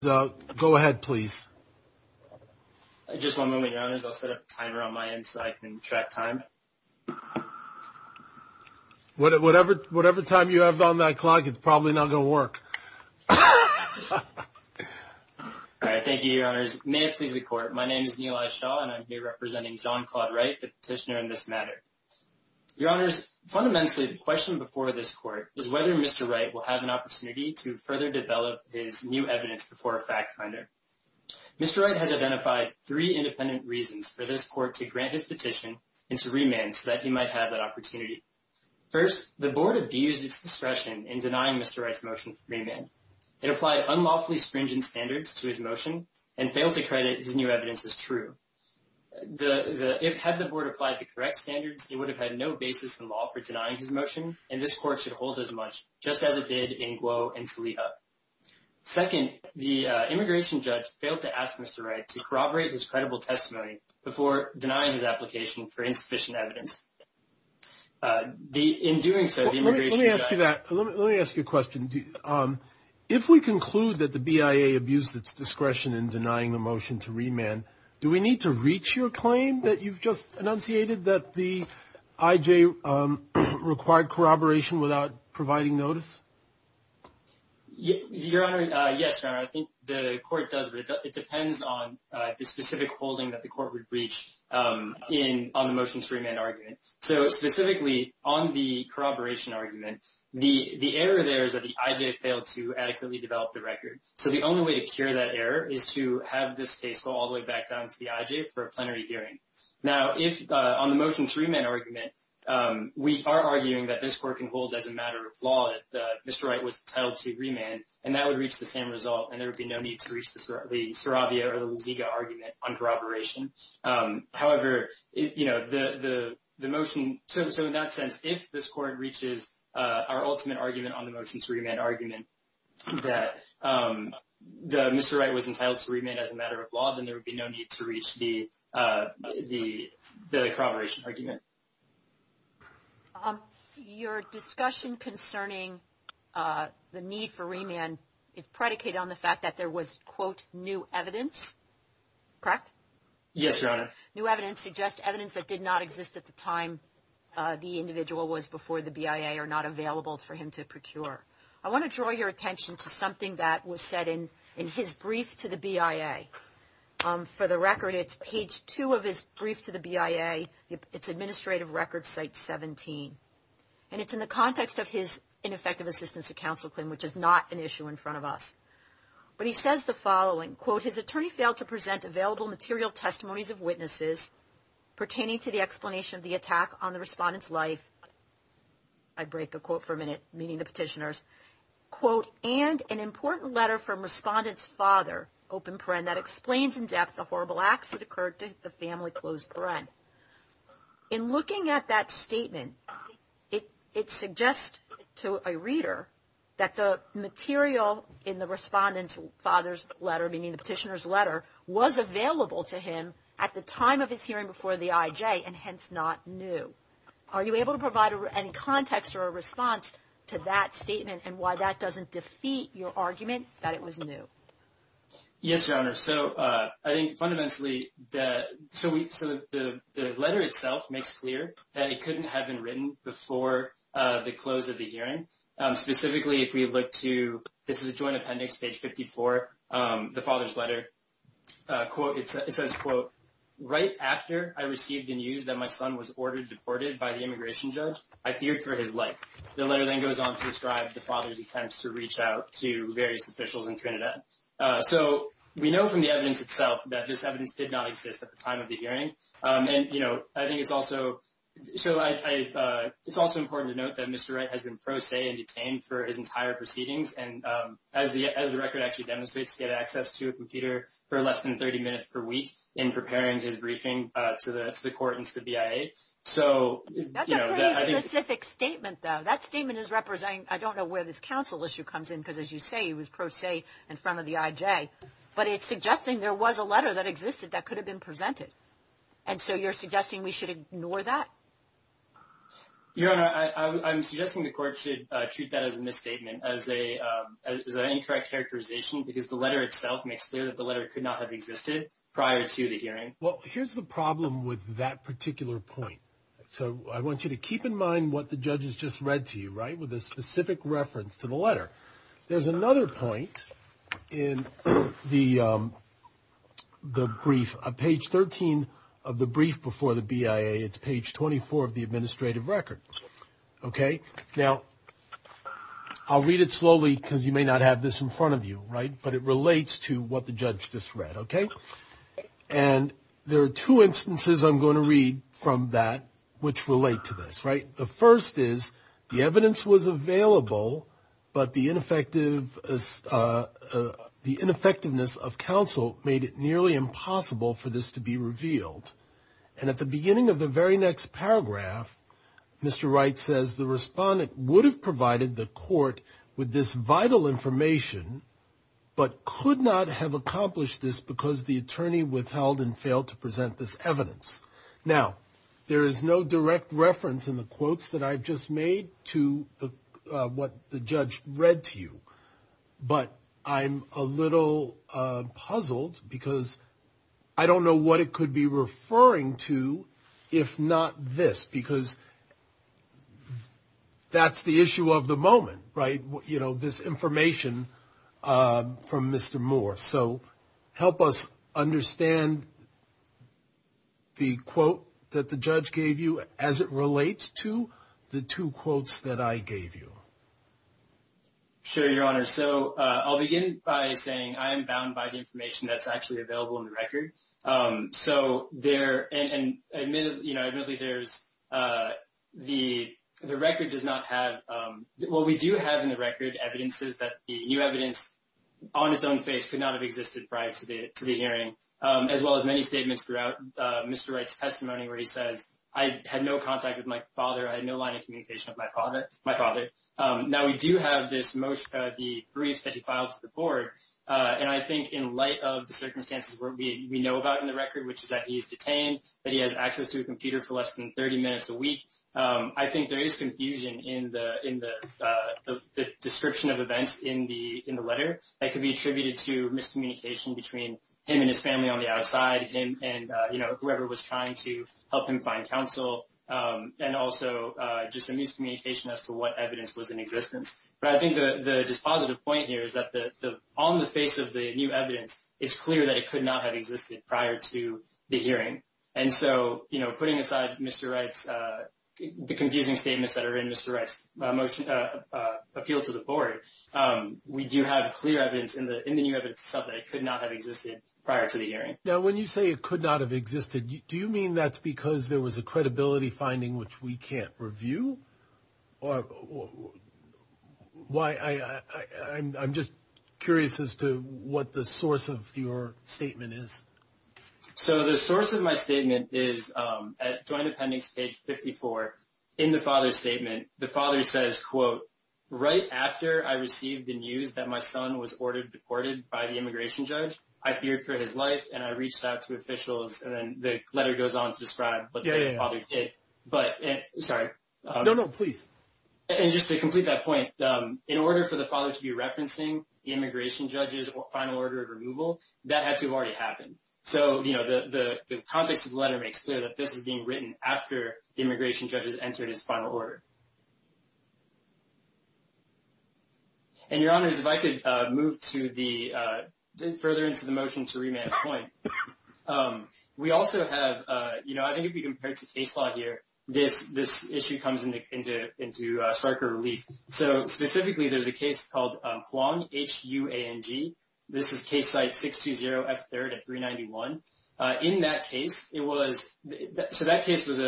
so go ahead please. I just want to move in your honors. I'll set a timer on my inside and track time. Whatever, whatever time you have on that clock, it's probably not gonna work. All right. Thank you. Your honor's may it please the court. My name is Neal. I saw and I'm here representing john Claude right petitioner in this matter. Your honors. Fundamentally, the question before this court is whether Mr Wright will have an opportunity to further develop his new evidence before a fact finder. Mr Wright has identified three independent reasons for this court to grant his petition into remand so that he might have that opportunity. First, the board abused its discretion in denying Mr Wright's motion for remand. It applied unlawfully stringent standards to his motion and failed to credit his new evidence is true. The if had the board applied the correct standards, it would have had no basis in law for denying his motion and this court should hold as much just as it did in glow and leah. Second, the immigration judge failed to ask Mr Wright to corroborate his credible testimony before denying his application for insufficient evidence. Uh, the in doing so, let me ask you that. Let me ask you a question. Um, if we conclude that the B. I. A. Abused its discretion in denying the motion to remand, do we need to reach your claim that you've just enunciated that the I. J. Required corroboration without providing notice. Your Honor. Yes, sir. I think the court does. But it depends on the specific holding that the court would reach. Um, in on the motion to remain argument. So specifically on the corroboration argument, the error there is that the I. J. Failed to adequately develop the record. So the only way to cure that error is to have this case go all the way back down to the I. J. For a plenary hearing. Now, if on the motion to remain argument, um, we are arguing that this court can hold as a matter of law that Mr Wright was entitled to remand, and that would reach the same result, and there would be no need to reach the Saravia or the Ziga argument on corroboration. However, you know, the motion. So in that sense, if this court reaches our ultimate argument on the motion to remain argument that, um, the Mr Wright was entitled to remain as a matter of law, then there would be no need to reach the, uh, the corroboration argument. Um, your discussion concerning, uh, the need for remand is predicated on the fact that there was quote new evidence. Correct? Yes, Your Honor. New evidence suggests evidence that did not exist at the time. Uh, the individual was before the B. I. A. Are not available for him to procure. I want to draw your attention to something that was said in in his brief to the B. I. A. Um, for the record, it's page two of his brief to the B. A. It's administrative record site 17, and it's in the context of his ineffective assistance to counsel claim, which is not an issue in front of us. But he says the following quote. His attorney failed to present available material testimonies of witnesses pertaining to the explanation of the attack on the respondents life. I'd break a quote for a minute, meaning the petitioners quote and an important letter from respondents father open print that explains in horrible acts that occurred to the family. Closed bread in looking at that statement, it suggests to a reader that the material in the respondents father's letter, meaning the petitioners letter was available to him at the time of his hearing before the I. J. And hence not new. Are you able to provide any context or a response to that statement and why that doesn't defeat your argument that it was new? Yes, Your Honor. So I think fundamentally that so we so the letter itself makes clear that it couldn't have been written before the close of the hearing. Specifically, if we look to this is a joint appendix page 54. Um, the father's letter quote, it says quote right after I received the news that my son was ordered deported by the immigration judge. I feared for his life. The letter then goes on to describe the father's attempts to reach out to the evidence itself that this evidence did not exist at the time of the hearing. And, you know, I think it's also so I it's also important to note that Mr Wright has been pro se and detained for his entire proceedings. And, um, as the as the record actually demonstrates to get access to a computer for less than 30 minutes per week in preparing his briefing to the court and to the B. I. A. So, you know, specific statement, though that statement is representing. I don't know where this council issue comes in because, as you say, it was pro se in front of the I. J. But it's suggesting there was a letter that existed that could have been presented. And so you're suggesting we should ignore that. Your honor, I'm suggesting the court should treat that as a misstatement as a incorrect characterization because the letter itself makes clear that the letter could not have existed prior to the hearing. Well, here's the problem with that particular point. So I want you to keep in mind what the judge has read to you right with a specific reference to the letter. There's another point in the the brief page 13 of the brief before the B. I. A. It's page 24 of the administrative record. Okay, now I'll read it slowly because you may not have this in front of you, right? But it relates to what the judge just read. Okay, and there are two instances I'm going to read from that which relate to this, right? The first is the evidence was available, but the ineffective, uh, the ineffectiveness of counsel made it nearly impossible for this to be revealed. And at the beginning of the very next paragraph, Mr Wright says the respondent would have provided the court with this vital information but could not have accomplished this because the attorney withheld and failed to present this evidence. Now there is no direct reference in the quotes that I've just made to what the judge read to you. But I'm a little puzzled because I don't know what it could be referring to if not this because that's the issue of the moment, right? You know, this information from Mr Moore. So help us understand the quote that the judge gave you as it relates to the two quotes that I gave you. Sure, Your Honor. So I'll begin by saying I'm bound by the information that's actually available in the record. Um, so there and admittedly, you know, admittedly, there's, uh, the record does not have what we do have in the record. Evidence is that the new evidence on its own face could not have existed prior to the hearing, as well as many statements throughout Mr Wright's testimony where he says, I had no contact with my father. I had no line of communication with my father, my father. Now we do have this most of the briefs that he filed to the board. And I think in light of the circumstances where we know about in the record, which is that he's detained, that he has access to a computer for less than 30 minutes a week. I think there is confusion in the in the description of events in the in the letter that could be attributed to miscommunication between him and his family on the outside and, you know, whoever was trying to help him find counsel. Um, and also just a miscommunication as to what evidence was in existence. But I think the dispositive point here is that the on the face of the new evidence, it's clear that it could not have existed prior to the hearing. And so, you know, putting aside Mr Wright's, uh, the using statements that are in Mr Wright's motion, uh, appeal to the board. Um, we do have clear evidence in the in the new evidence subject could not have existed prior to the hearing. Now, when you say it could not have existed, do you mean that's because there was a credibility finding which we can't review or why? I'm just curious as to what the source of your statement is. So the source of my statement is, um, at the end of the father's statement, the father says, quote, right after I received the news that my son was ordered deported by the immigration judge, I feared for his life and I reached out to officials. And then the letter goes on to describe what the father did. But sorry, no, no, please. And just to complete that point, um, in order for the father to be referencing immigration judges, final order of removal that had to have already happened. So, you know, the context of the letter makes clear that this is being written after the immigration judges entered his final order. And your honors, if I could move to the, uh, further into the motion to remand point. Um, we also have, uh, you know, I think if you compared to case law here, this, this issue comes into, into, into a striker relief. So specifically, there's a case called Huang H U A N G. This is case site 6 So that case was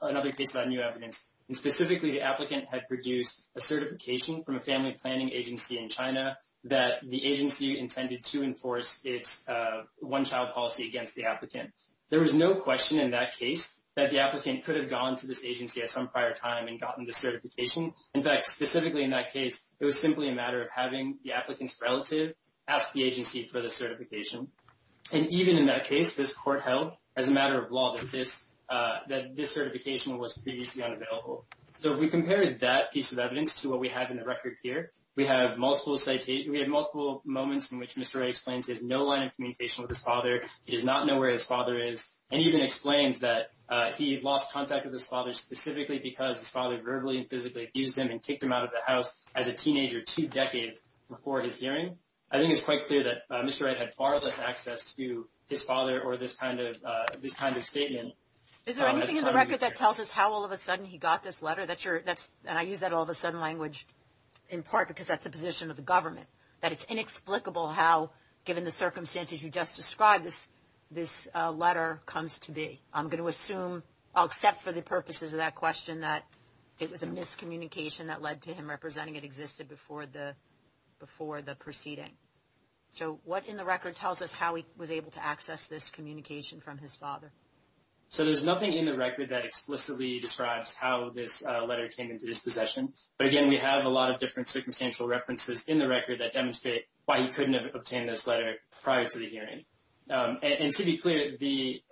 another case about new evidence. And specifically, the applicant had produced a certification from a family planning agency in China that the agency intended to enforce its, uh, one child policy against the applicant. There was no question in that case that the applicant could have gone to this agency at some prior time and gotten the certification. In fact, specifically in that case, it was simply a matter of having the applicant's relative asked the agency for the certification. And even in that case, this court held as a matter of law that this, uh, that this certification was previously unavailable. So if we compared that piece of evidence to what we have in the record here, we have multiple citations. We have multiple moments in which Mr explains his no line of communication with his father. He does not know where his father is, and even explains that he lost contact with his father specifically because his father verbally and physically abused him and kicked him out of the house as a teenager two decades before his hearing. I think it's quite clear that Mr Wright had far less access to his father or this kind of this kind of is there anything in the record that tells us how all of a sudden he got this letter that you're that's and I use that all of a sudden language in part because that's the position of the government, that it's inexplicable. How, given the circumstances you just described this, this letter comes to be, I'm going to assume I'll accept for the purposes of that question that it was a miscommunication that led to him representing it existed before the before the proceeding. So what in the record tells us how he was able to so there's nothing in the record that explicitly describes how this letter came into this possession. But again, we have a lot of different circumstantial references in the record that demonstrate why he couldn't obtain this letter prior to the hearing. And to be clear, the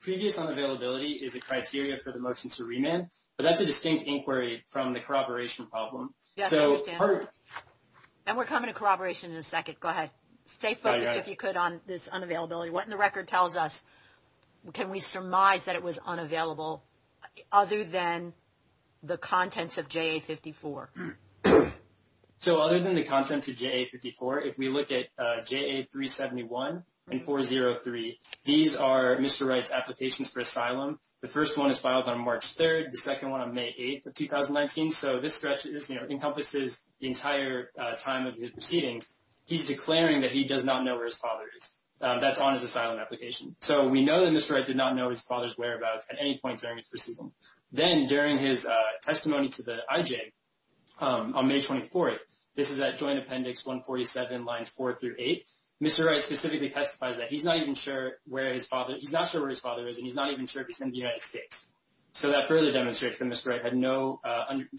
previous unavailability is a criteria for the motion to remand. But that's a distinct inquiry from the corroboration problem. So and we're coming to corroboration in a second. Go ahead. Stay focused if you could on this unavailability. What in the record tells us? Can we surmise that it was unavailable other than the contents of J. A. 54? So other than the contents of J. A. 54, if we look at J. A. 371 and 403, these are Mr. Wright's applications for asylum. The first one is filed on March 3rd, the second one on May 8th of 2019. So this stretch is, you know, encompasses the entire time of the proceedings. He's declaring that he does not know where his father is. That's on his asylum application. So we know that Mr. Wright did not know his father's whereabouts at any point during the proceeding. Then during his testimony to the IJ on May 24th, this is that joint appendix 147 lines 4 through 8, Mr. Wright specifically testifies that he's not even sure where his father, he's not sure where his father is, and he's not even sure if he's in the United States. So that further demonstrates that Mr. Wright had no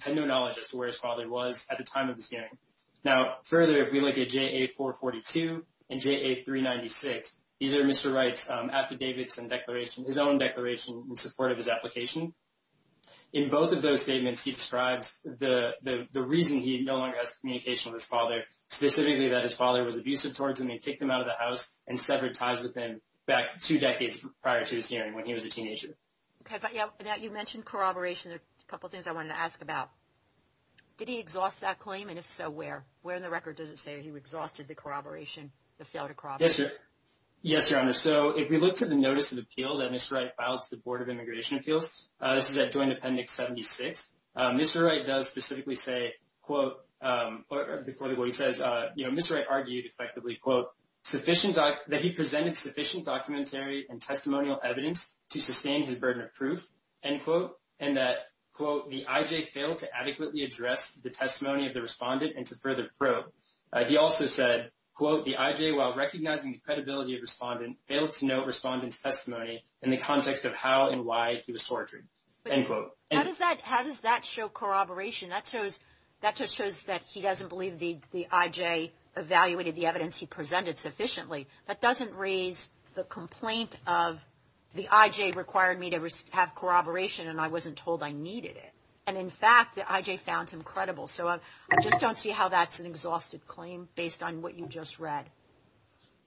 knowledge as to where his father was at the time of this hearing. Now further, if we look at J. A. 442 and J. A. 396, these are Mr. Wright's affidavits and declaration, his own declaration in support of his application. In both of those statements, he describes the reason he no longer has communication with his father, specifically that his father was abusive towards him. He kicked him out of the house and severed ties with him back two decades prior to his hearing when he was a teenager. Okay, but yeah, you mentioned corroboration. There are a couple things I wanted to ask about. Did he exhaust that claim? And if so, where? Where in the record does it say he exhausted the corroboration, the failed corroboration? Yes, Your Honor. So if we looked at the Notice of Appeal that Mr. Wright filed to the Board of Immigration Appeals, this is that joint appendix 76, Mr. Wright does specifically say, quote, before the court, he says, you know, Mr. Wright argued effectively, quote, sufficient, that he presented sufficient documentary and testimonial evidence to adequately address the testimony of the respondent and to further probe. He also said, quote, the IJ, while recognizing the credibility of respondent, failed to note respondent's testimony in the context of how and why he was tortured, end quote. How does that show corroboration? That just shows that he doesn't believe the IJ evaluated the evidence he presented sufficiently. That doesn't raise the complaint of the IJ required me to have corroboration and I J found him credible. So I just don't see how that's an exhausted claim based on what you just read.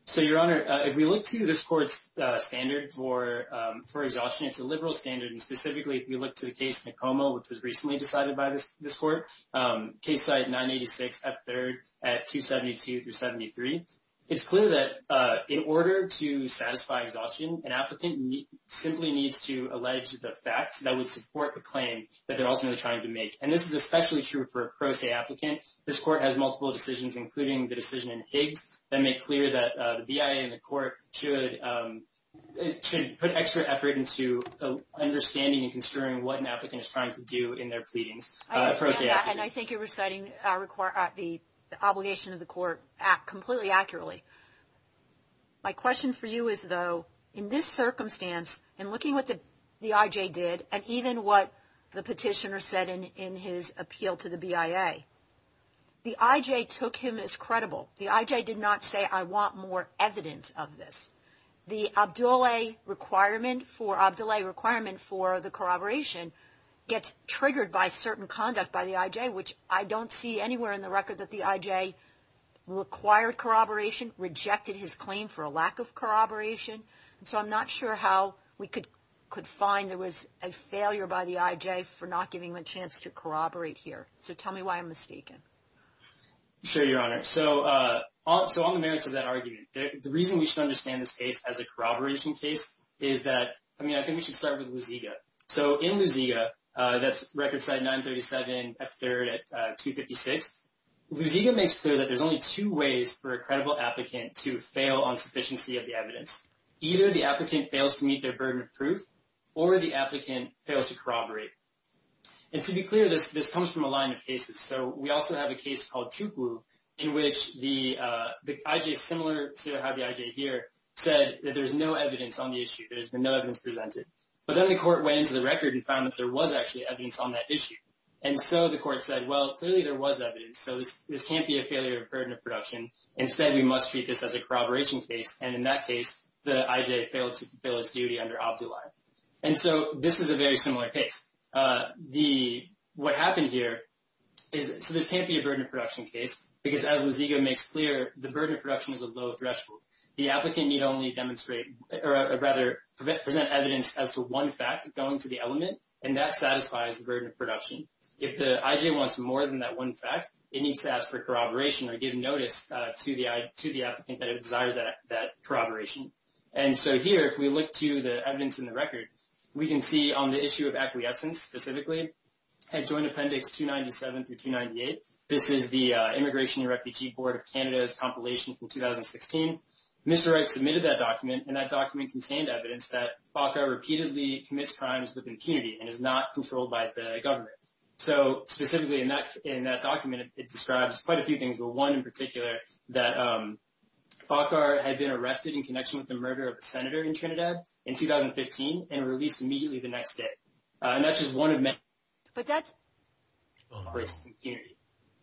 So, Your Honor, if we look to this court's standard for for exhaustion, it's a liberal standard. And specifically, if you look to the case, Tacoma, which was recently decided by this court, Case Site 986 F3 at 272 through 73, it's clear that in order to satisfy exhaustion, an applicant simply needs to allege the facts that would support the claim that they're ultimately trying to make. And this is especially true for a pro se applicant. This court has multiple decisions, including the decision in Higgs, that make clear that the BIA and the court should put extra effort into understanding and considering what an applicant is trying to do in their pleadings. And I think you're reciting the obligation of the court completely accurately. My question for you is, though, in this circumstance, in looking at what the IJ did, and even what the petitioner said in his appeal to the BIA, the IJ took him as credible. The IJ did not say, I want more evidence of this. The Abdoulaye requirement for the corroboration gets triggered by certain conduct by the IJ, which I don't see anywhere in the record that the IJ required corroboration, rejected his claim for a lack of corroboration. So I'm not sure how we could find there was a failure by the IJ for not giving him a chance to corroborate here. So tell me why I'm mistaken. Sure, Your Honor. So on the merits of that argument, the reason we should understand this case as a corroboration case is that, I mean, I think we should start with Luziga. So in Luziga, that's Record Site 937, F3rd at 256, Luziga makes clear that there's only two ways for a credible applicant to fail on the issue. Either the applicant fails to meet their burden of proof, or the applicant fails to corroborate. And to be clear, this comes from a line of cases. So we also have a case called Chukwu, in which the IJ, similar to how the IJ here, said that there's no evidence on the issue, there's been no evidence presented. But then the court went into the record and found that there was actually evidence on that issue. And so the court said, well, clearly there was evidence. So this can't be a failure of burden of production. Instead, we must treat this as a corroboration case. And in that case, the applicant must fulfill its duty under OBDII. And so this is a very similar case. What happened here is, so this can't be a burden of production case, because as Luziga makes clear, the burden of production is a low threshold. The applicant need only demonstrate, or rather, present evidence as to one fact going to the element, and that satisfies the burden of production. If the IJ wants more than that one fact, it needs to ask for corroboration or give notice to the applicant that it desires that corroboration. So if we look to the evidence in the record, we can see on the issue of acquiescence, specifically, at Joint Appendix 297 through 298. This is the Immigration and Refugee Board of Canada's compilation from 2016. Mr. Wright submitted that document, and that document contained evidence that FACAR repeatedly commits crimes with impunity and is not controlled by the government. So specifically in that document, it describes quite a few things, but one in particular, that FACAR had been arrested in connection with the murder of a senator in Trinidad in 2015, and released immediately the next day. And that's just one of many. But that's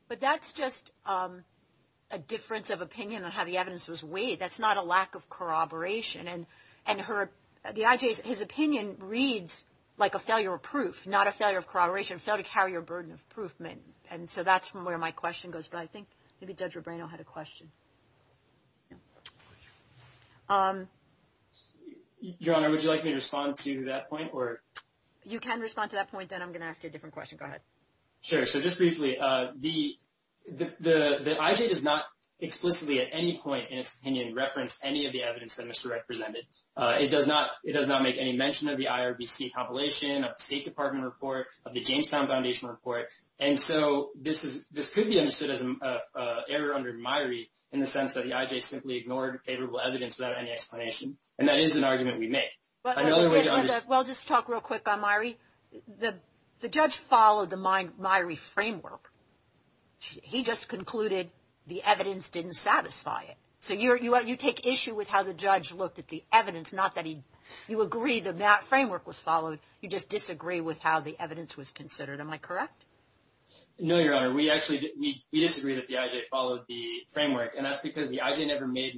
But that's just a difference of opinion on how the evidence was weighed. That's not a lack of corroboration. And, and her, the IJ's, his opinion reads like a failure of proof, not a failure of corroboration, failed to carry a burden of proof. And so that's where my question goes. But I think maybe Judge Rebrano had a question. Your Honor, would you like me to respond to that point, or? You can respond to that point, then I'm going to ask you a different question. Go ahead. Sure. So just briefly, the, the IJ does not explicitly at any point in its opinion, reference any of the evidence that Mr. Wright presented. It does not, it does not make any mention of the IRBC compilation, of the State Department report, of the Jamestown Foundation report. And so this is, this could be understood as an error under MIRI, in the sense that the IJ simply ignored favorable evidence without any explanation. And that is an argument we make. Well, just talk real quick on MIRI. The, the judge followed the MIRI framework. He just concluded the evidence didn't satisfy it. So you're, you are, you take issue with how the judge looked at the evidence, not that he, you agree that that framework was followed. You just disagree with how the evidence was considered. Am I correct? No, Your Honor, we actually, we disagree that the IJ followed the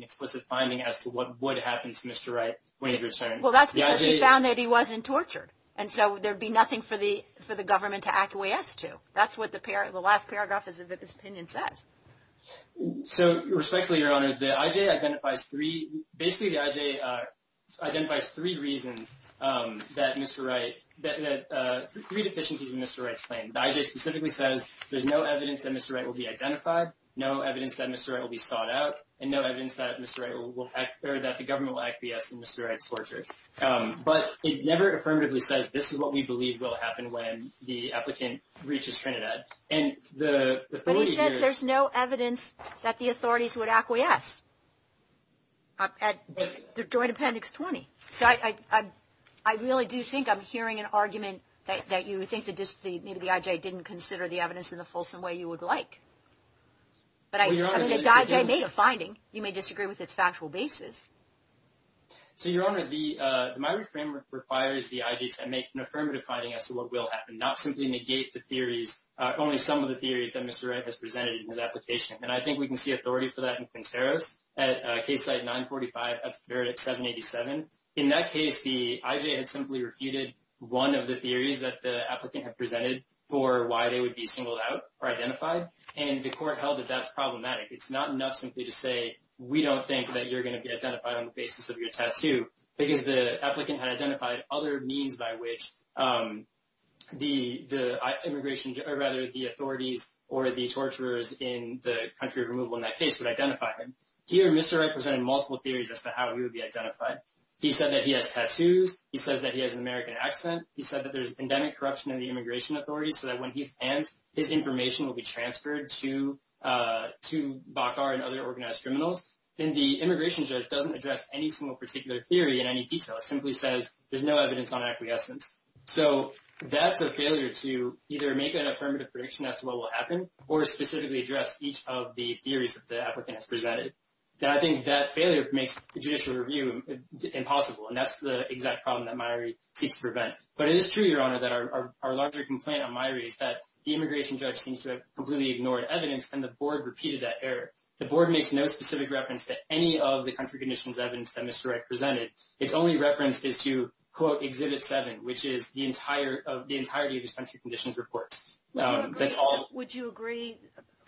explicit finding as to what would happen to Mr. Wright when he returned. Well, that's because he found that he wasn't tortured. And so there'd be nothing for the, for the government to acquiesce to. That's what the pair, the last paragraph of his opinion says. So respectfully, Your Honor, the IJ identifies three, basically the IJ identifies three reasons that Mr. Wright, that, that, three deficiencies in Mr. Wright's claim. The IJ specifically says there's no evidence that Mr. Wright will be identified, no evidence that Mr. Wright will be or that the government will acquiesce in Mr. Wright's torture. But it never affirmatively says this is what we believe will happen when the applicant reaches Trinidad. And the, the authority here. But he says there's no evidence that the authorities would acquiesce at the Joint Appendix 20. So I, I, I really do think I'm hearing an argument that you think that just the, maybe the IJ didn't consider the evidence in the fulsome way you would like. But I, I mean, the IJ made a finding. You may disagree with its factual basis. So, Your Honor, the, my reframe requires the IJ to make an affirmative finding as to what will happen, not simply negate the theories, only some of the theories that Mr. Wright has presented in his application. And I think we can see authority for that in Quinteros at Case Site 945 at 787. In that case, the IJ had simply refuted one of the theories that the applicant had presented for why they would be singled out or identified. And the court held that that's problematic. It's not enough simply to say, we don't think that you're going to be identified on the basis of your tattoo because the applicant had identified other means by which the, the immigration, or rather the authorities or the torturers in the country of removal in that case would identify him. Here, Mr. Wright presented multiple theories as to how he would be identified. He said that he has tattoos. He says that he has an American accent. He said that there's endemic corruption in the immigration authorities so that when he stands, his information will be transferred to, to BACAR and other organized criminals. And the immigration judge doesn't address any single particular theory in any detail. It simply says there's no evidence on acquiescence. So that's a failure to either make an affirmative prediction as to what will happen or specifically address each of the theories that the applicant has presented. And I think that failure makes judicial review impossible. And that's the exact problem that Myrie seeks to prevent. But it is true, Your The immigration judge seems to have completely ignored evidence and the board repeated that error. The board makes no specific reference to any of the country conditions evidence that Mr. Wright presented. It's only reference is to quote exhibit seven, which is the entire of the entirety of his country conditions reports. Would you agree,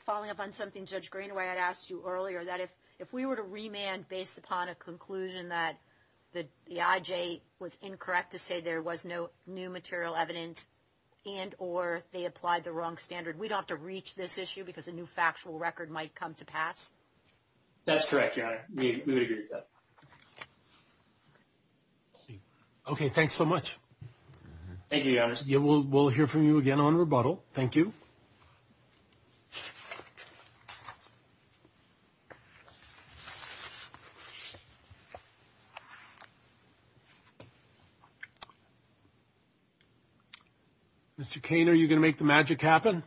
following up on something Judge Greenaway had asked you earlier that if, if we were to remand based upon a conclusion that the IJ was the wrong standard, we don't have to reach this issue because a new factual record might come to pass. That's correct. Okay, thanks so much. Thank you. We'll hear from you again on rebuttal. Thank you. Yeah. Mr. Kane, are you gonna make the magic happen?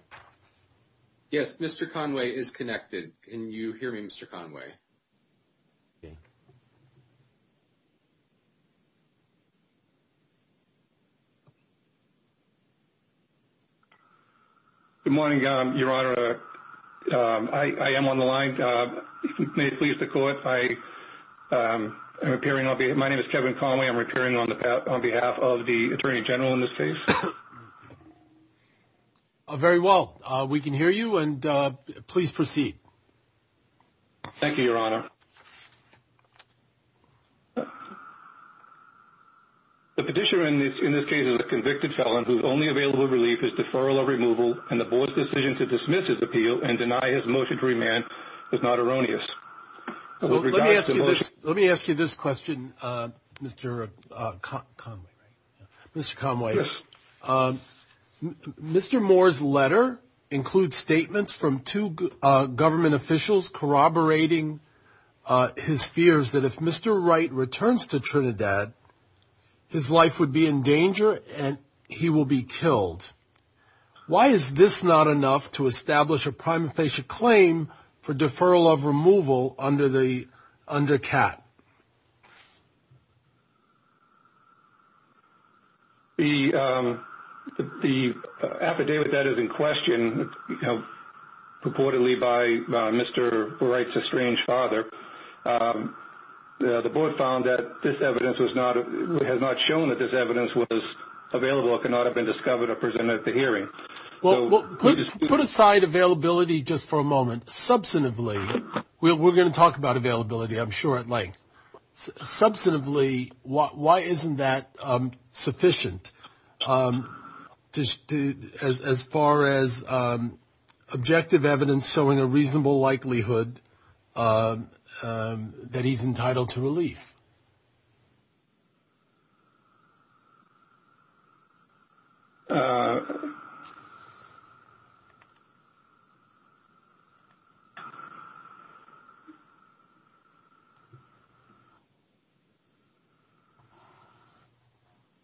Yes. Mr. Conway is connected. Can you hear me, Mr Conway? Yeah. Good morning, Your Honor. I am on the line. May it please the court. I am appearing. I'll be. My name is Kevin Conway. I'm appearing on the path on behalf of the attorney general in this case. Very well, we can hear you and please proceed. Thank you, Your Honor. The petitioner in this, in this case is a convicted felon whose only available relief is deferral of removal and the board's decision to dismiss his appeal and deny his motion to remand is not erroneous. So let me ask you this. Let me ask you this question, Mr Conway, Mr Conway. Um, Mr. Moore's letter includes statements from two government officials corroborating his fears that if Mr Wright returns to Trinidad, his life would be in danger and he will be killed. Why is this not enough to establish a prima facie claim for deferral of removal under the undercat? Yeah. The the affidavit that is in question, you know, purportedly by Mr Wright's estranged father. Um, the board found that this evidence was not has not shown that this evidence was available. It cannot have been discovered or presented at the hearing. Well, put aside availability just for a moment. Substantively, we're going to talk about availability. I'm sure at length substantively. Why isn't that sufficient? Um, just as far as, um, objective evidence showing a reasonable likelihood, um, that he's entitled to relief. Uh, uh,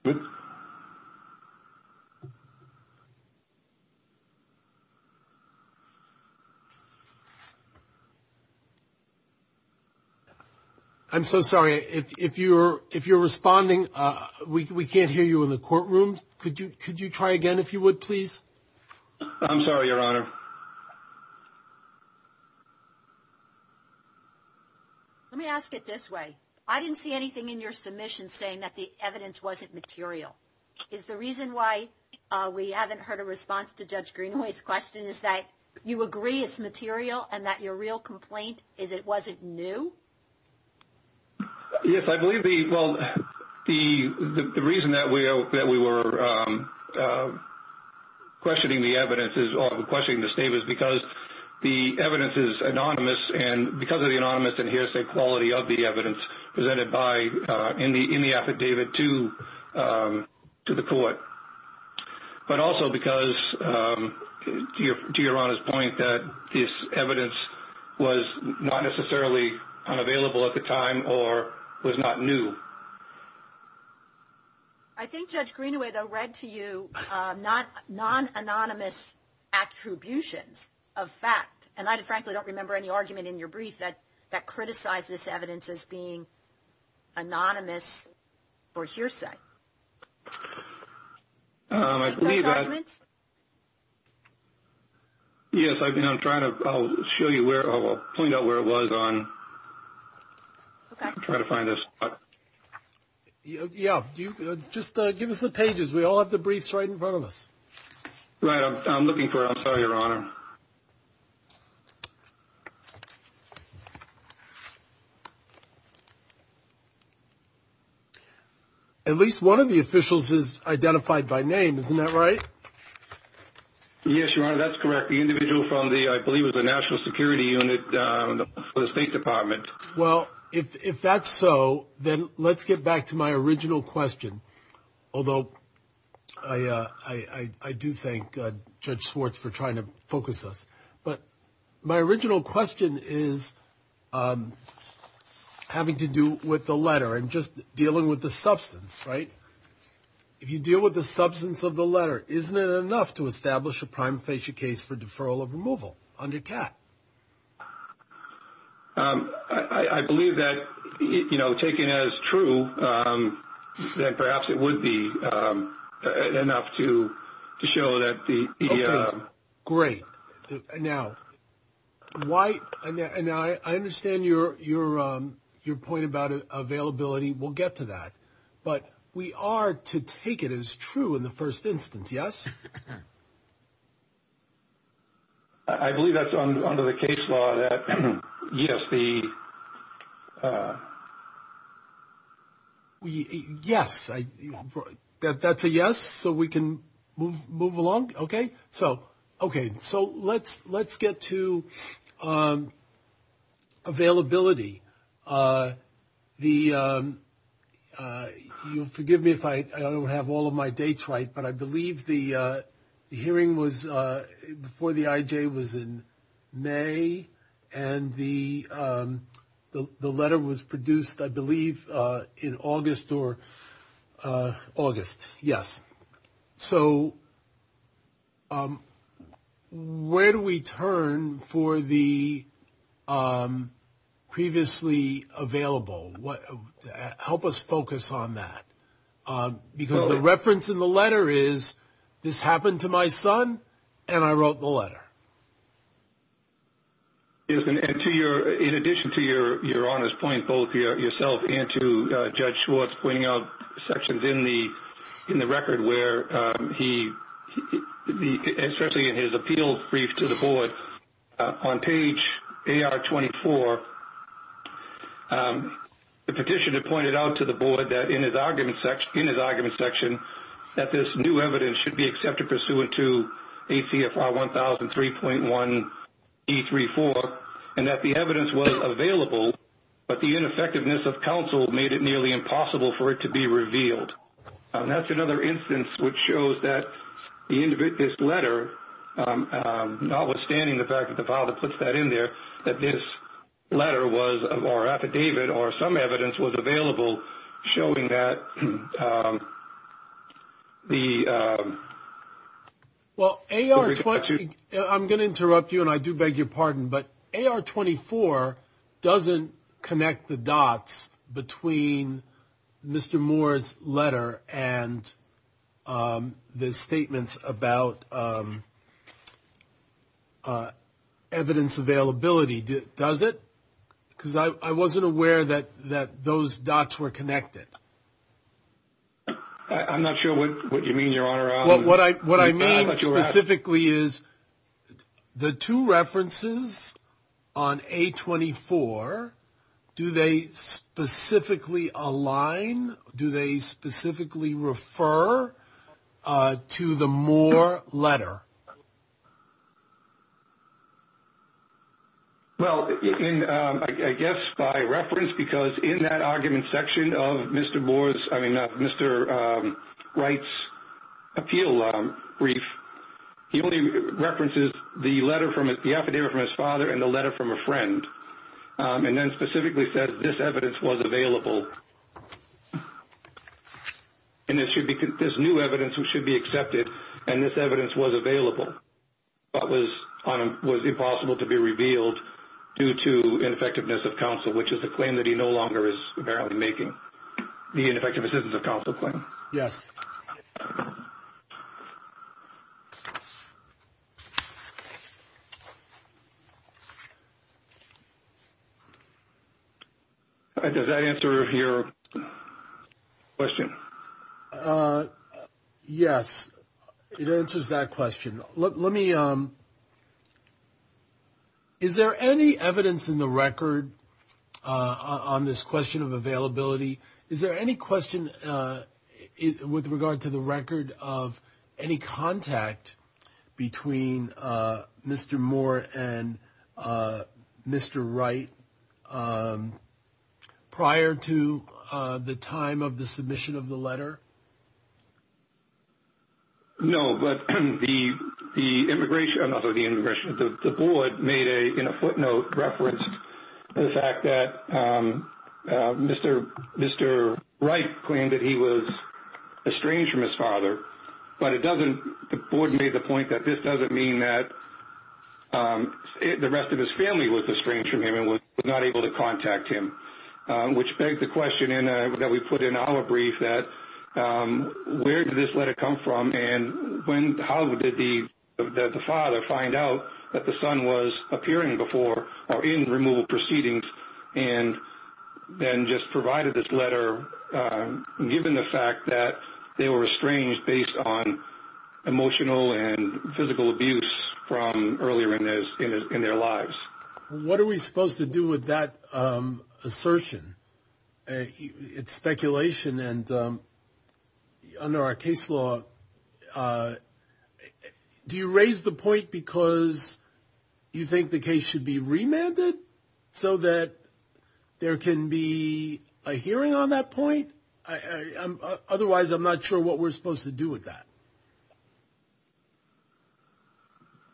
good. I'm so sorry. If you're if you're responding, we can't hear you in the courtroom. Could you could you try again if you would, please? I'm sorry, Your Honor. Yeah. Let me ask it this way. I didn't see anything in your submission saying that the evidence wasn't material is the reason why we haven't heard a response to Judge Greenway's question. Is that you agree it's material and that your real complaint is it wasn't new? Yes, I believe the well, the reason that we hope that we were, um, uh, the evidence is anonymous and because of the anonymous and hearsay quality of the evidence presented by in the in the affidavit to, um, to the court, but also because, um, to your to your honor's point that this evidence was not necessarily unavailable at the time or was not new. I think Judge Greenway, though, read to you not non anonymous attributions of fact, and I frankly don't remember any argument in your brief that that criticized this evidence is being anonymous or hearsay. I believe that yes, I've been. I'm trying to show you where I'll point out where it was on. I'm trying to find this. Yeah. Just give us the pages. We all have the briefs right in front of us, right? I'm looking for. I'm sorry, Your Honor. Yeah. At least one of the officials is identified by name. Isn't that right? Yes, Your Honor. That's correct. The individual from the I believe it was a national security unit for the State Department. Well, if that's so, then let's get back to my original question. Although I do thank Judge Swartz for trying to focus us. But my original question is having to do with the letter and just dealing with the substance, right? If you deal with the substance of the letter, isn't it enough to establish a prime facial case for deferral of removal under cat? I believe that, you know, taking as true that perhaps it would be enough to show that the... Okay. Great. Now, I understand your point about availability. We'll get to that. But we are to take it as true in the first instance, yes? I believe that's under the case law that yes, the... Yes. That's a yes? So we can move along? Okay. So, okay. So let's get to availability. You'll forgive me if I don't have all of my dates right, but I believe the hearing was before the IJ was in May. And the letter was produced, I believe, in August or... August. Yes. So where do we turn for the previously available? Help us focus on that. Because the reference in the letter is, this happened to my son and I wrote the letter. Yes. And to your... In addition to your honest point, both yourself and to Judge Schwartz pointing out sections in the record where he... Especially in his appeal brief to the board, on page AR24, the petitioner pointed out to the board that in his argument section that this new evidence should be accepted pursuant to ACFR 1003.1 E34, and that the evidence was available, but the ineffectiveness of counsel made it nearly impossible for it to be revealed. That's another instance which shows that this letter, notwithstanding the fact that the father puts that in there, that this letter was, or affidavit, or some Well, AR20... I'm going to interrupt you and I do beg your pardon, but AR24 doesn't connect the dots between Mr. Moore's letter and the statements about evidence availability. Does it? Because I wasn't aware that those dots were connected. I'm not sure what you mean, Your Honor. What I mean specifically is the two references on A24, do they specifically align? Do they specifically refer to the Moore letter? Well, I guess by reference, because in that argument section of Mr. Wright's appeal brief, he only references the affidavit from his father and the letter from a friend, and then specifically says this evidence was available, and this new evidence should be accepted, and this evidence was available, but was impossible to be revealed due to ineffectiveness of counsel, which is a claim that he no longer is apparently making, the ineffectiveness of counsel claim. Yes. All right. Does that answer your question? Yes, it answers that question. Let me... Is there any evidence in the record on this question of availability? Is there any question with regard to the record of any contact between Mr. Moore and Mr. Wright prior to the time of the submission of the letter? No, but the board made a footnote reference to the fact that Mr. Wright claimed that he was estranged from his father, but the board made the point that this doesn't mean that the rest of his family was estranged from him and was not able to contact him, which begs the question that we put in our brief that where did this letter come from, and how did the father find out that the son was appearing before or in removal proceedings, and then just provided this letter given the fact that they were estranged based on emotional and physical abuse from earlier in their lives? What are we supposed to do with that assertion? It's speculation, and under our case law, do you raise the point because you think the case should be remanded so that there can be a hearing on that point? Otherwise, I'm not sure what we're supposed to do with that.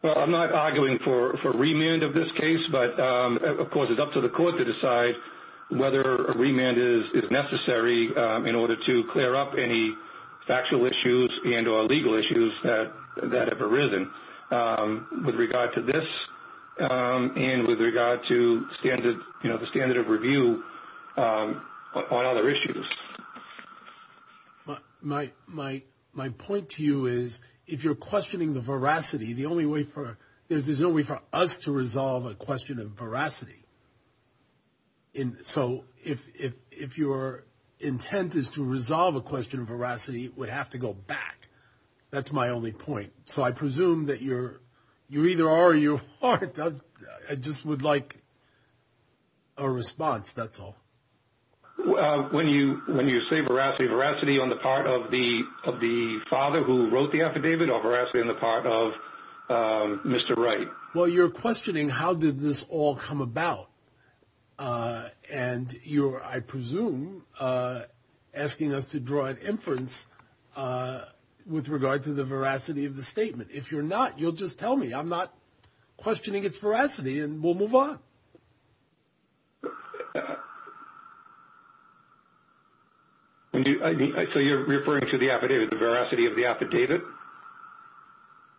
Well, I'm not arguing for remand of this case, but of course, it's up to the court to decide whether a remand is necessary in order to clear up any factual issues and or legal issues that have arisen with regard to this and with regard to the standard of review on other issues. But my point to you is, if you're questioning the veracity, there's no way for us to resolve a question of veracity. So if your intent is to resolve a question of veracity, it would have to go back. That's my only point. So I presume that you either are or you aren't. I just would like a response, that's all. When you say veracity, veracity on the part of the father who wrote the affidavit or veracity on the part of Mr. Wright? Well, you're questioning how did this all come about. And you're, I presume, asking us to draw an inference with regard to the veracity of the statement. If you're not, you'll just tell me. I'm not questioning its veracity and we'll vote. So you're referring to the affidavit, the veracity of the affidavit?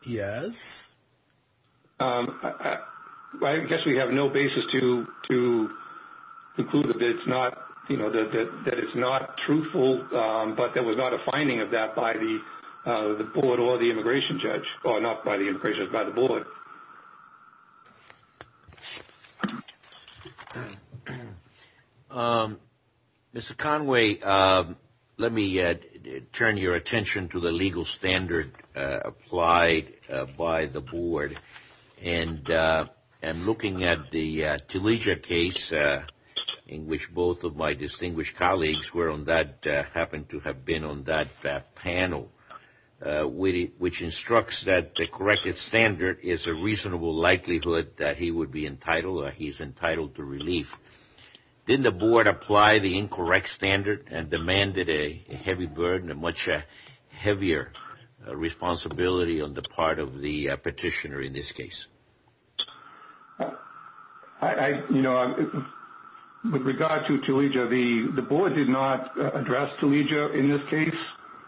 Yes. I guess we have no basis to conclude that it's not, you know, that it's not truthful, but there was not a finding of that by the board or the immigration judge, or not by the immigration, by the board. Mr. Conway, let me turn your attention to the legal standard applied by the board. And looking at the Telegia case in which both of my distinguished colleagues were on that, happened to have been on that panel, which instructs that the corrected standard is a reasonable likelihood that he would be entitled or he's entitled to relief. Didn't the board apply the incorrect standard and demanded a heavy burden, a much heavier responsibility on the part of the petitioner in this case? I, you know, with regard to Telegia, the board did not address Telegia in this case.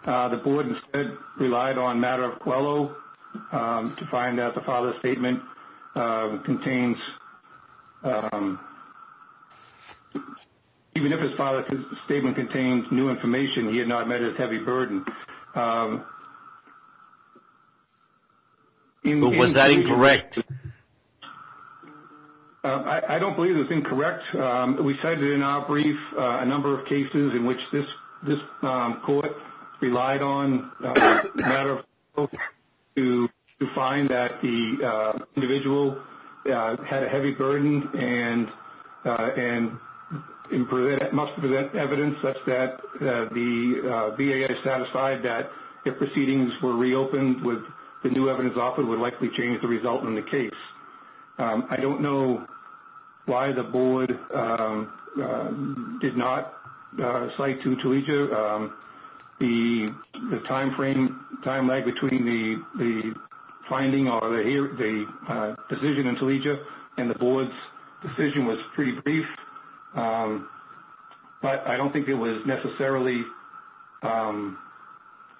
The board instead relied on Matter of Quello to find out the father's statement contains, even if his father's statement contains new information, he had not met his heavy burden. But was that incorrect? I don't believe it's incorrect. We cited in our brief a number of cases in which this court relied on Matter of Quello to find that the individual had a heavy burden and must present evidence such that the VA is satisfied that if proceedings were reopened with the new evidence offered would likely change the result in the case. I don't know why the board did not cite to Telegia the time frame, time lag between the finding or the decision in Telegia and the board's decision was pretty brief. But I don't think it was necessarily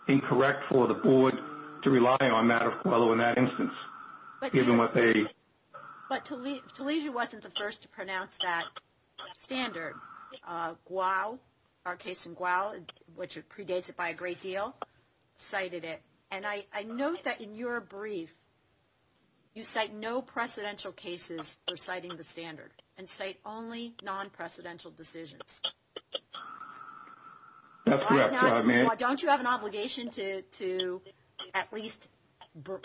incorrect for the board to rely on Matter of Quello in that instance, given what they... But Telegia wasn't the first to pronounce that standard. Guao, our case in Guao, which predates it by a great deal, cited it. And I note that in your brief, you cite no precedential cases for citing the standard and cite only non-precedential decisions. Don't you have an obligation to at least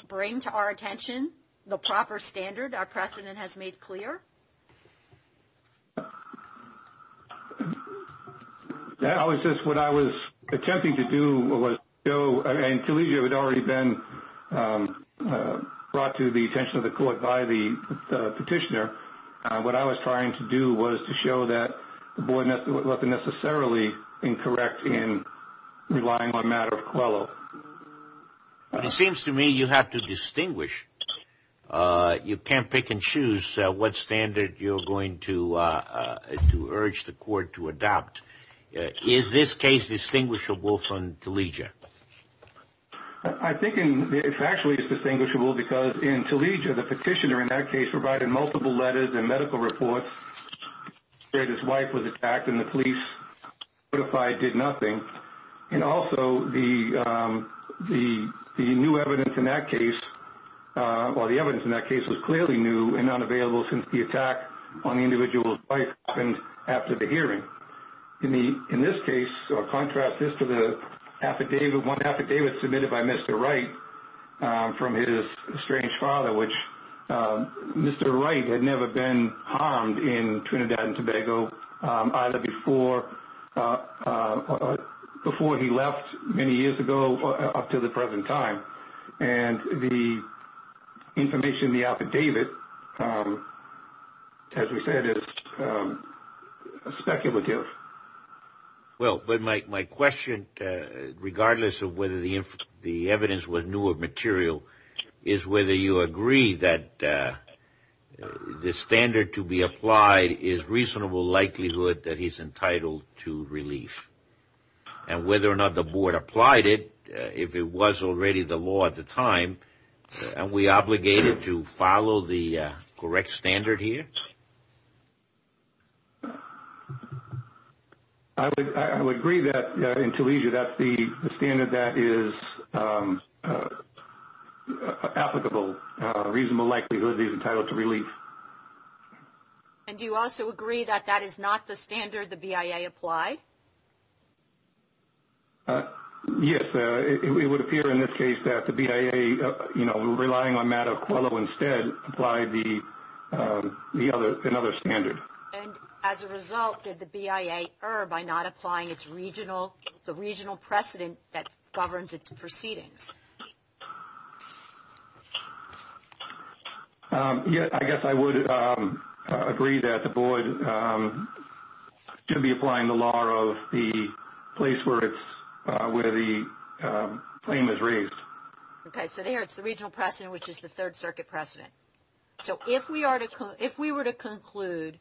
bring to our attention the proper standard our precedent has made clear? That was just what I was attempting to do. And Telegia had already been brought to the attention of the court by the petitioner. What I was trying to do was to show that the board wasn't necessarily incorrect in relying on Matter of Quello. Well, it seems to me you have to distinguish. You can't pick and choose what standard you're going to urge the court to adopt. Is this case distinguishable from Telegia? I think it's actually distinguishable because in Telegia, the petitioner in that case provided multiple letters and medical reports. His wife was attacked and the police notified did nothing. And also, the new evidence in that case, or the evidence in that case, was clearly new and unavailable since the attack on the individual's wife happened after the hearing. In this case, or contrast this to the affidavit, one affidavit submitted by Mr. Wright from his estranged father, which Mr. Wright had never been harmed in Trinidad and Tobago, either before he left many years ago or up to the present time. And the information in the affidavit, as we said, is speculative. Well, but my question, regardless of whether the evidence was new or material, is whether you agree that the standard to be applied is reasonable likelihood that he's entitled to relief. And whether or not the board applied it, if it was already the law at the time, are we obligated to follow the correct standard here? I would agree that in Telesia that's the standard that is applicable. Reasonable likelihood he's entitled to relief. And do you also agree that that is not the standard the BIA applied? Yes, it would appear in this case that the BIA, you know, relying on Matt Aquello instead, applied another standard. And as a result, did the BIA err by not applying the regional precedent that governs its proceedings? I guess I would agree that the board should be applying the law of the place where the claim is raised. Okay, so there it's the regional precedent, which is the Third Circuit precedent. So, if we were to conclude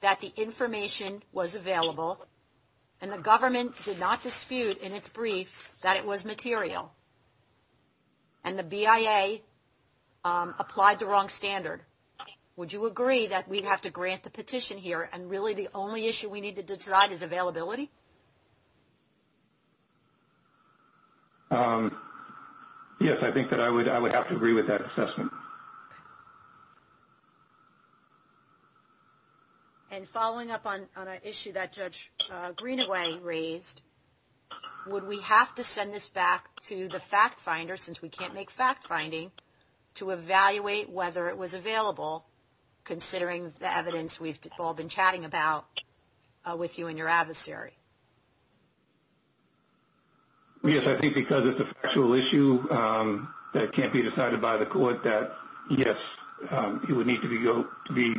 that the information was available, and the government did not dispute in its brief that it was material, and the BIA applied the wrong standard, would you agree that we'd have to grant the petition here and really the only issue we need to decide is availability? Yes, I think that I would I would have to agree with that assessment. And following up on an issue that Judge Greenaway raised, would we have to send this back to the fact finder, since we can't make fact finding, to evaluate whether it was available, considering the evidence we've all been chatting about with you and your adversary? Yes, I think because it's a factual issue that can't be decided by the court that, yes, it would need to be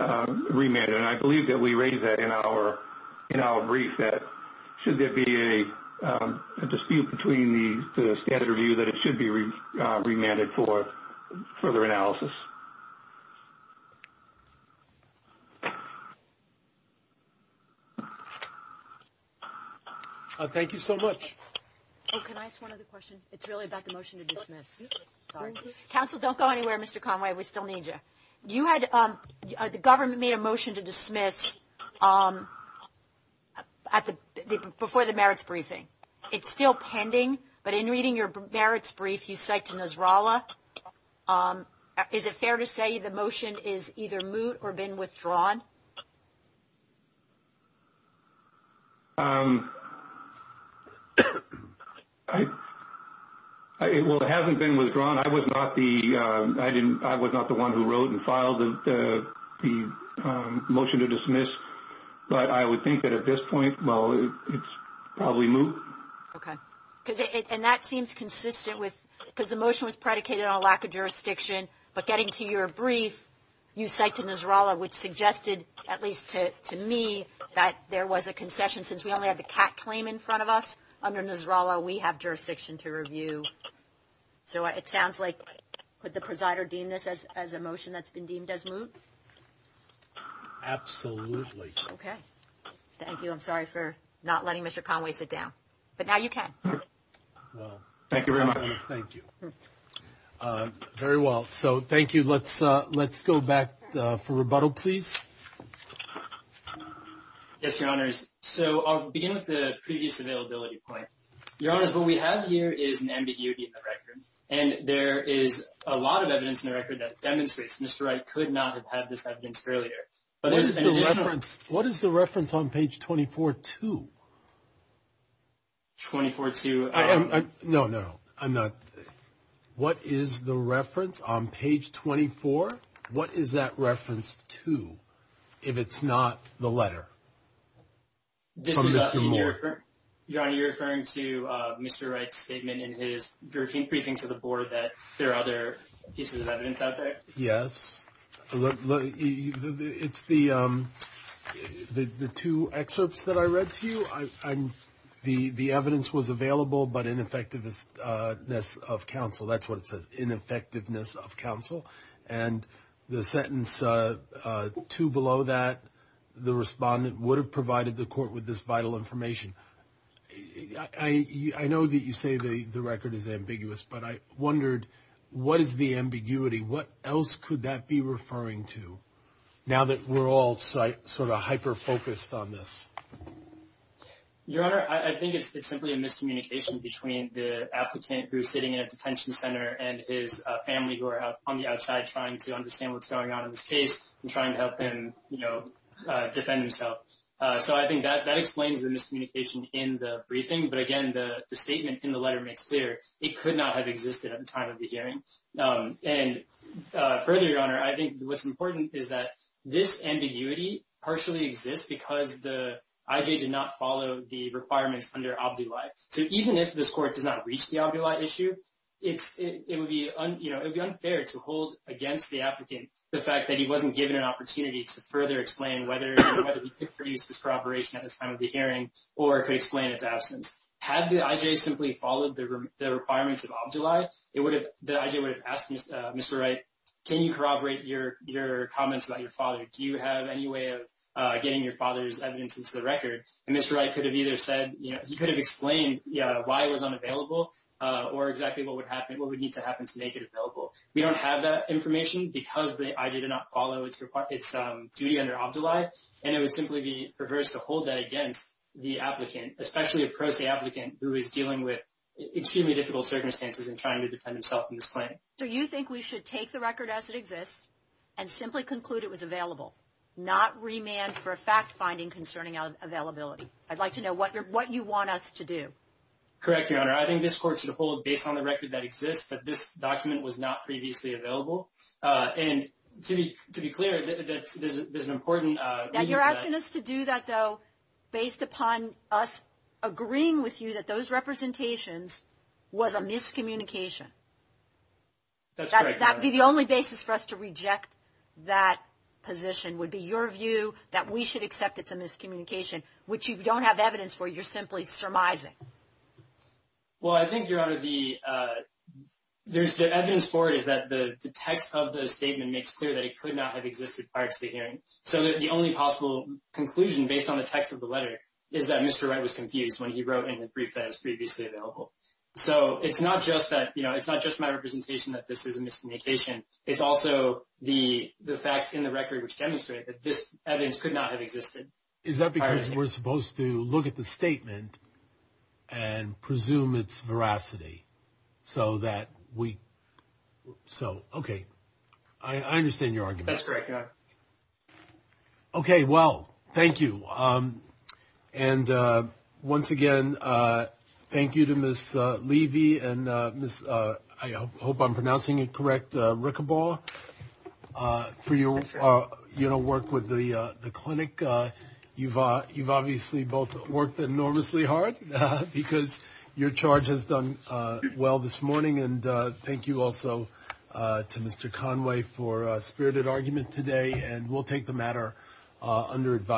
remanded. And I believe that we raised that in our brief that, should there be a dispute between the standard review that it should be remanded for further analysis. Thank you so much. Oh, can I ask one other question? It's really about the motion to dismiss. Counsel, don't go anywhere, Mr. Conway, we still need you. You had the government made a motion to dismiss before the merits briefing. It's still pending, but in reading your merits brief, you cite to Nasrallah. Is it fair to say the motion is either moot or been withdrawn? Um, I, well, it hasn't been withdrawn. I was not the, I didn't, I was not the one who wrote and filed the motion to dismiss. But I would think that at this point, well, it's probably moot. Okay. Because it, and that seems consistent with, because the motion was predicated on a lack of jurisdiction. But getting to your brief, you cite to Nasrallah, which suggested, at least to me, that there was a concession since we only had the CAC claim in front of us. Under Nasrallah, we have jurisdiction to review. So it sounds like, could the presider deem this as a motion that's been deemed as moot? Absolutely. Okay. Thank you. I'm sorry for not letting Mr. Conway sit down. But now you can. Well, thank you very much. Thank you. Very well. So thank you. Let's go back for rebuttal, please. Yes, your honors. So I'll begin with the previous availability point. Your honors, what we have here is an ambiguity in the record. And there is a lot of evidence in the record that demonstrates Mr. Wright could not have had this evidence earlier. What is the reference on page 24-2? 24-2. No, no, I'm not. What is the reference on page 24? What is that reference to, if it's not the letter from Mr. Moore? Your honor, you're referring to Mr. Wright's statement in his juror team briefing to the board that there are other pieces of evidence out there? Yes. It's the two excerpts that I read to you. The evidence was available, but ineffectiveness of counsel. That's what it says, ineffectiveness of counsel. And the sentence two below that, the respondent would have provided the court with this vital information. I know that you say the record is ambiguous, but I wondered, what is the ambiguity? What else could that be referring to now that we're all sort of hyper-focused on this? Your honor, I think it's simply a miscommunication between the applicant who's sitting in a detention center and his family who are on the outside trying to understand what's going on in this case and trying to help him defend himself. So I think that explains the miscommunication in the briefing. But again, the statement in the letter makes clear it could not have existed at the time of the hearing. And further, your honor, I think what's important is that this ambiguity partially exists because the IJ did not follow the requirements under OBDII. So even if this it would be unfair to hold against the applicant the fact that he wasn't given an opportunity to further explain whether he could produce this corroboration at this time of the hearing or could explain its absence. Had the IJ simply followed the requirements of OBDII, the IJ would have asked Mr. Wright, can you corroborate your comments about your father? Do you have any way of getting your father's evidence into the record? And Mr. Wright could have either said, he could have explained why it was unavailable or exactly what would happen. What would need to happen to make it available? We don't have that information because the IJ did not follow its duty under OBDII. And it would simply be perverse to hold that against the applicant, especially a pro se applicant who is dealing with extremely difficult circumstances and trying to defend himself in this plan. So you think we should take the record as it exists and simply conclude it was available, not remand for a fact finding concerning availability. I'd like to know what you want us to do. Correct, your honor. I think this court based on the record that exists, but this document was not previously available. And to be clear, there's an important- You're asking us to do that though, based upon us agreeing with you that those representations was a miscommunication. That'd be the only basis for us to reject that position would be your view that we should accept it's a miscommunication, which you don't have evidence for, you're simply surmising. Well, I think your honor, there's the evidence for it is that the text of the statement makes clear that it could not have existed prior to the hearing. So the only possible conclusion based on the text of the letter is that Mr. Wright was confused when he wrote in the brief that was previously available. So it's not just my representation that this is a miscommunication, it's also the facts in the record which demonstrate that this evidence could not have existed. Is that because we're supposed to look at the statement and presume it's veracity so that we... So, okay. I understand your argument. Okay. Well, thank you. And once again, thank you to Ms. Levy and Ms.... I hope I'm pronouncing it right. You've obviously both worked enormously hard because your charge has done well this morning. And thank you also to Mr. Conway for a spirited argument today and we'll take the matter under advice.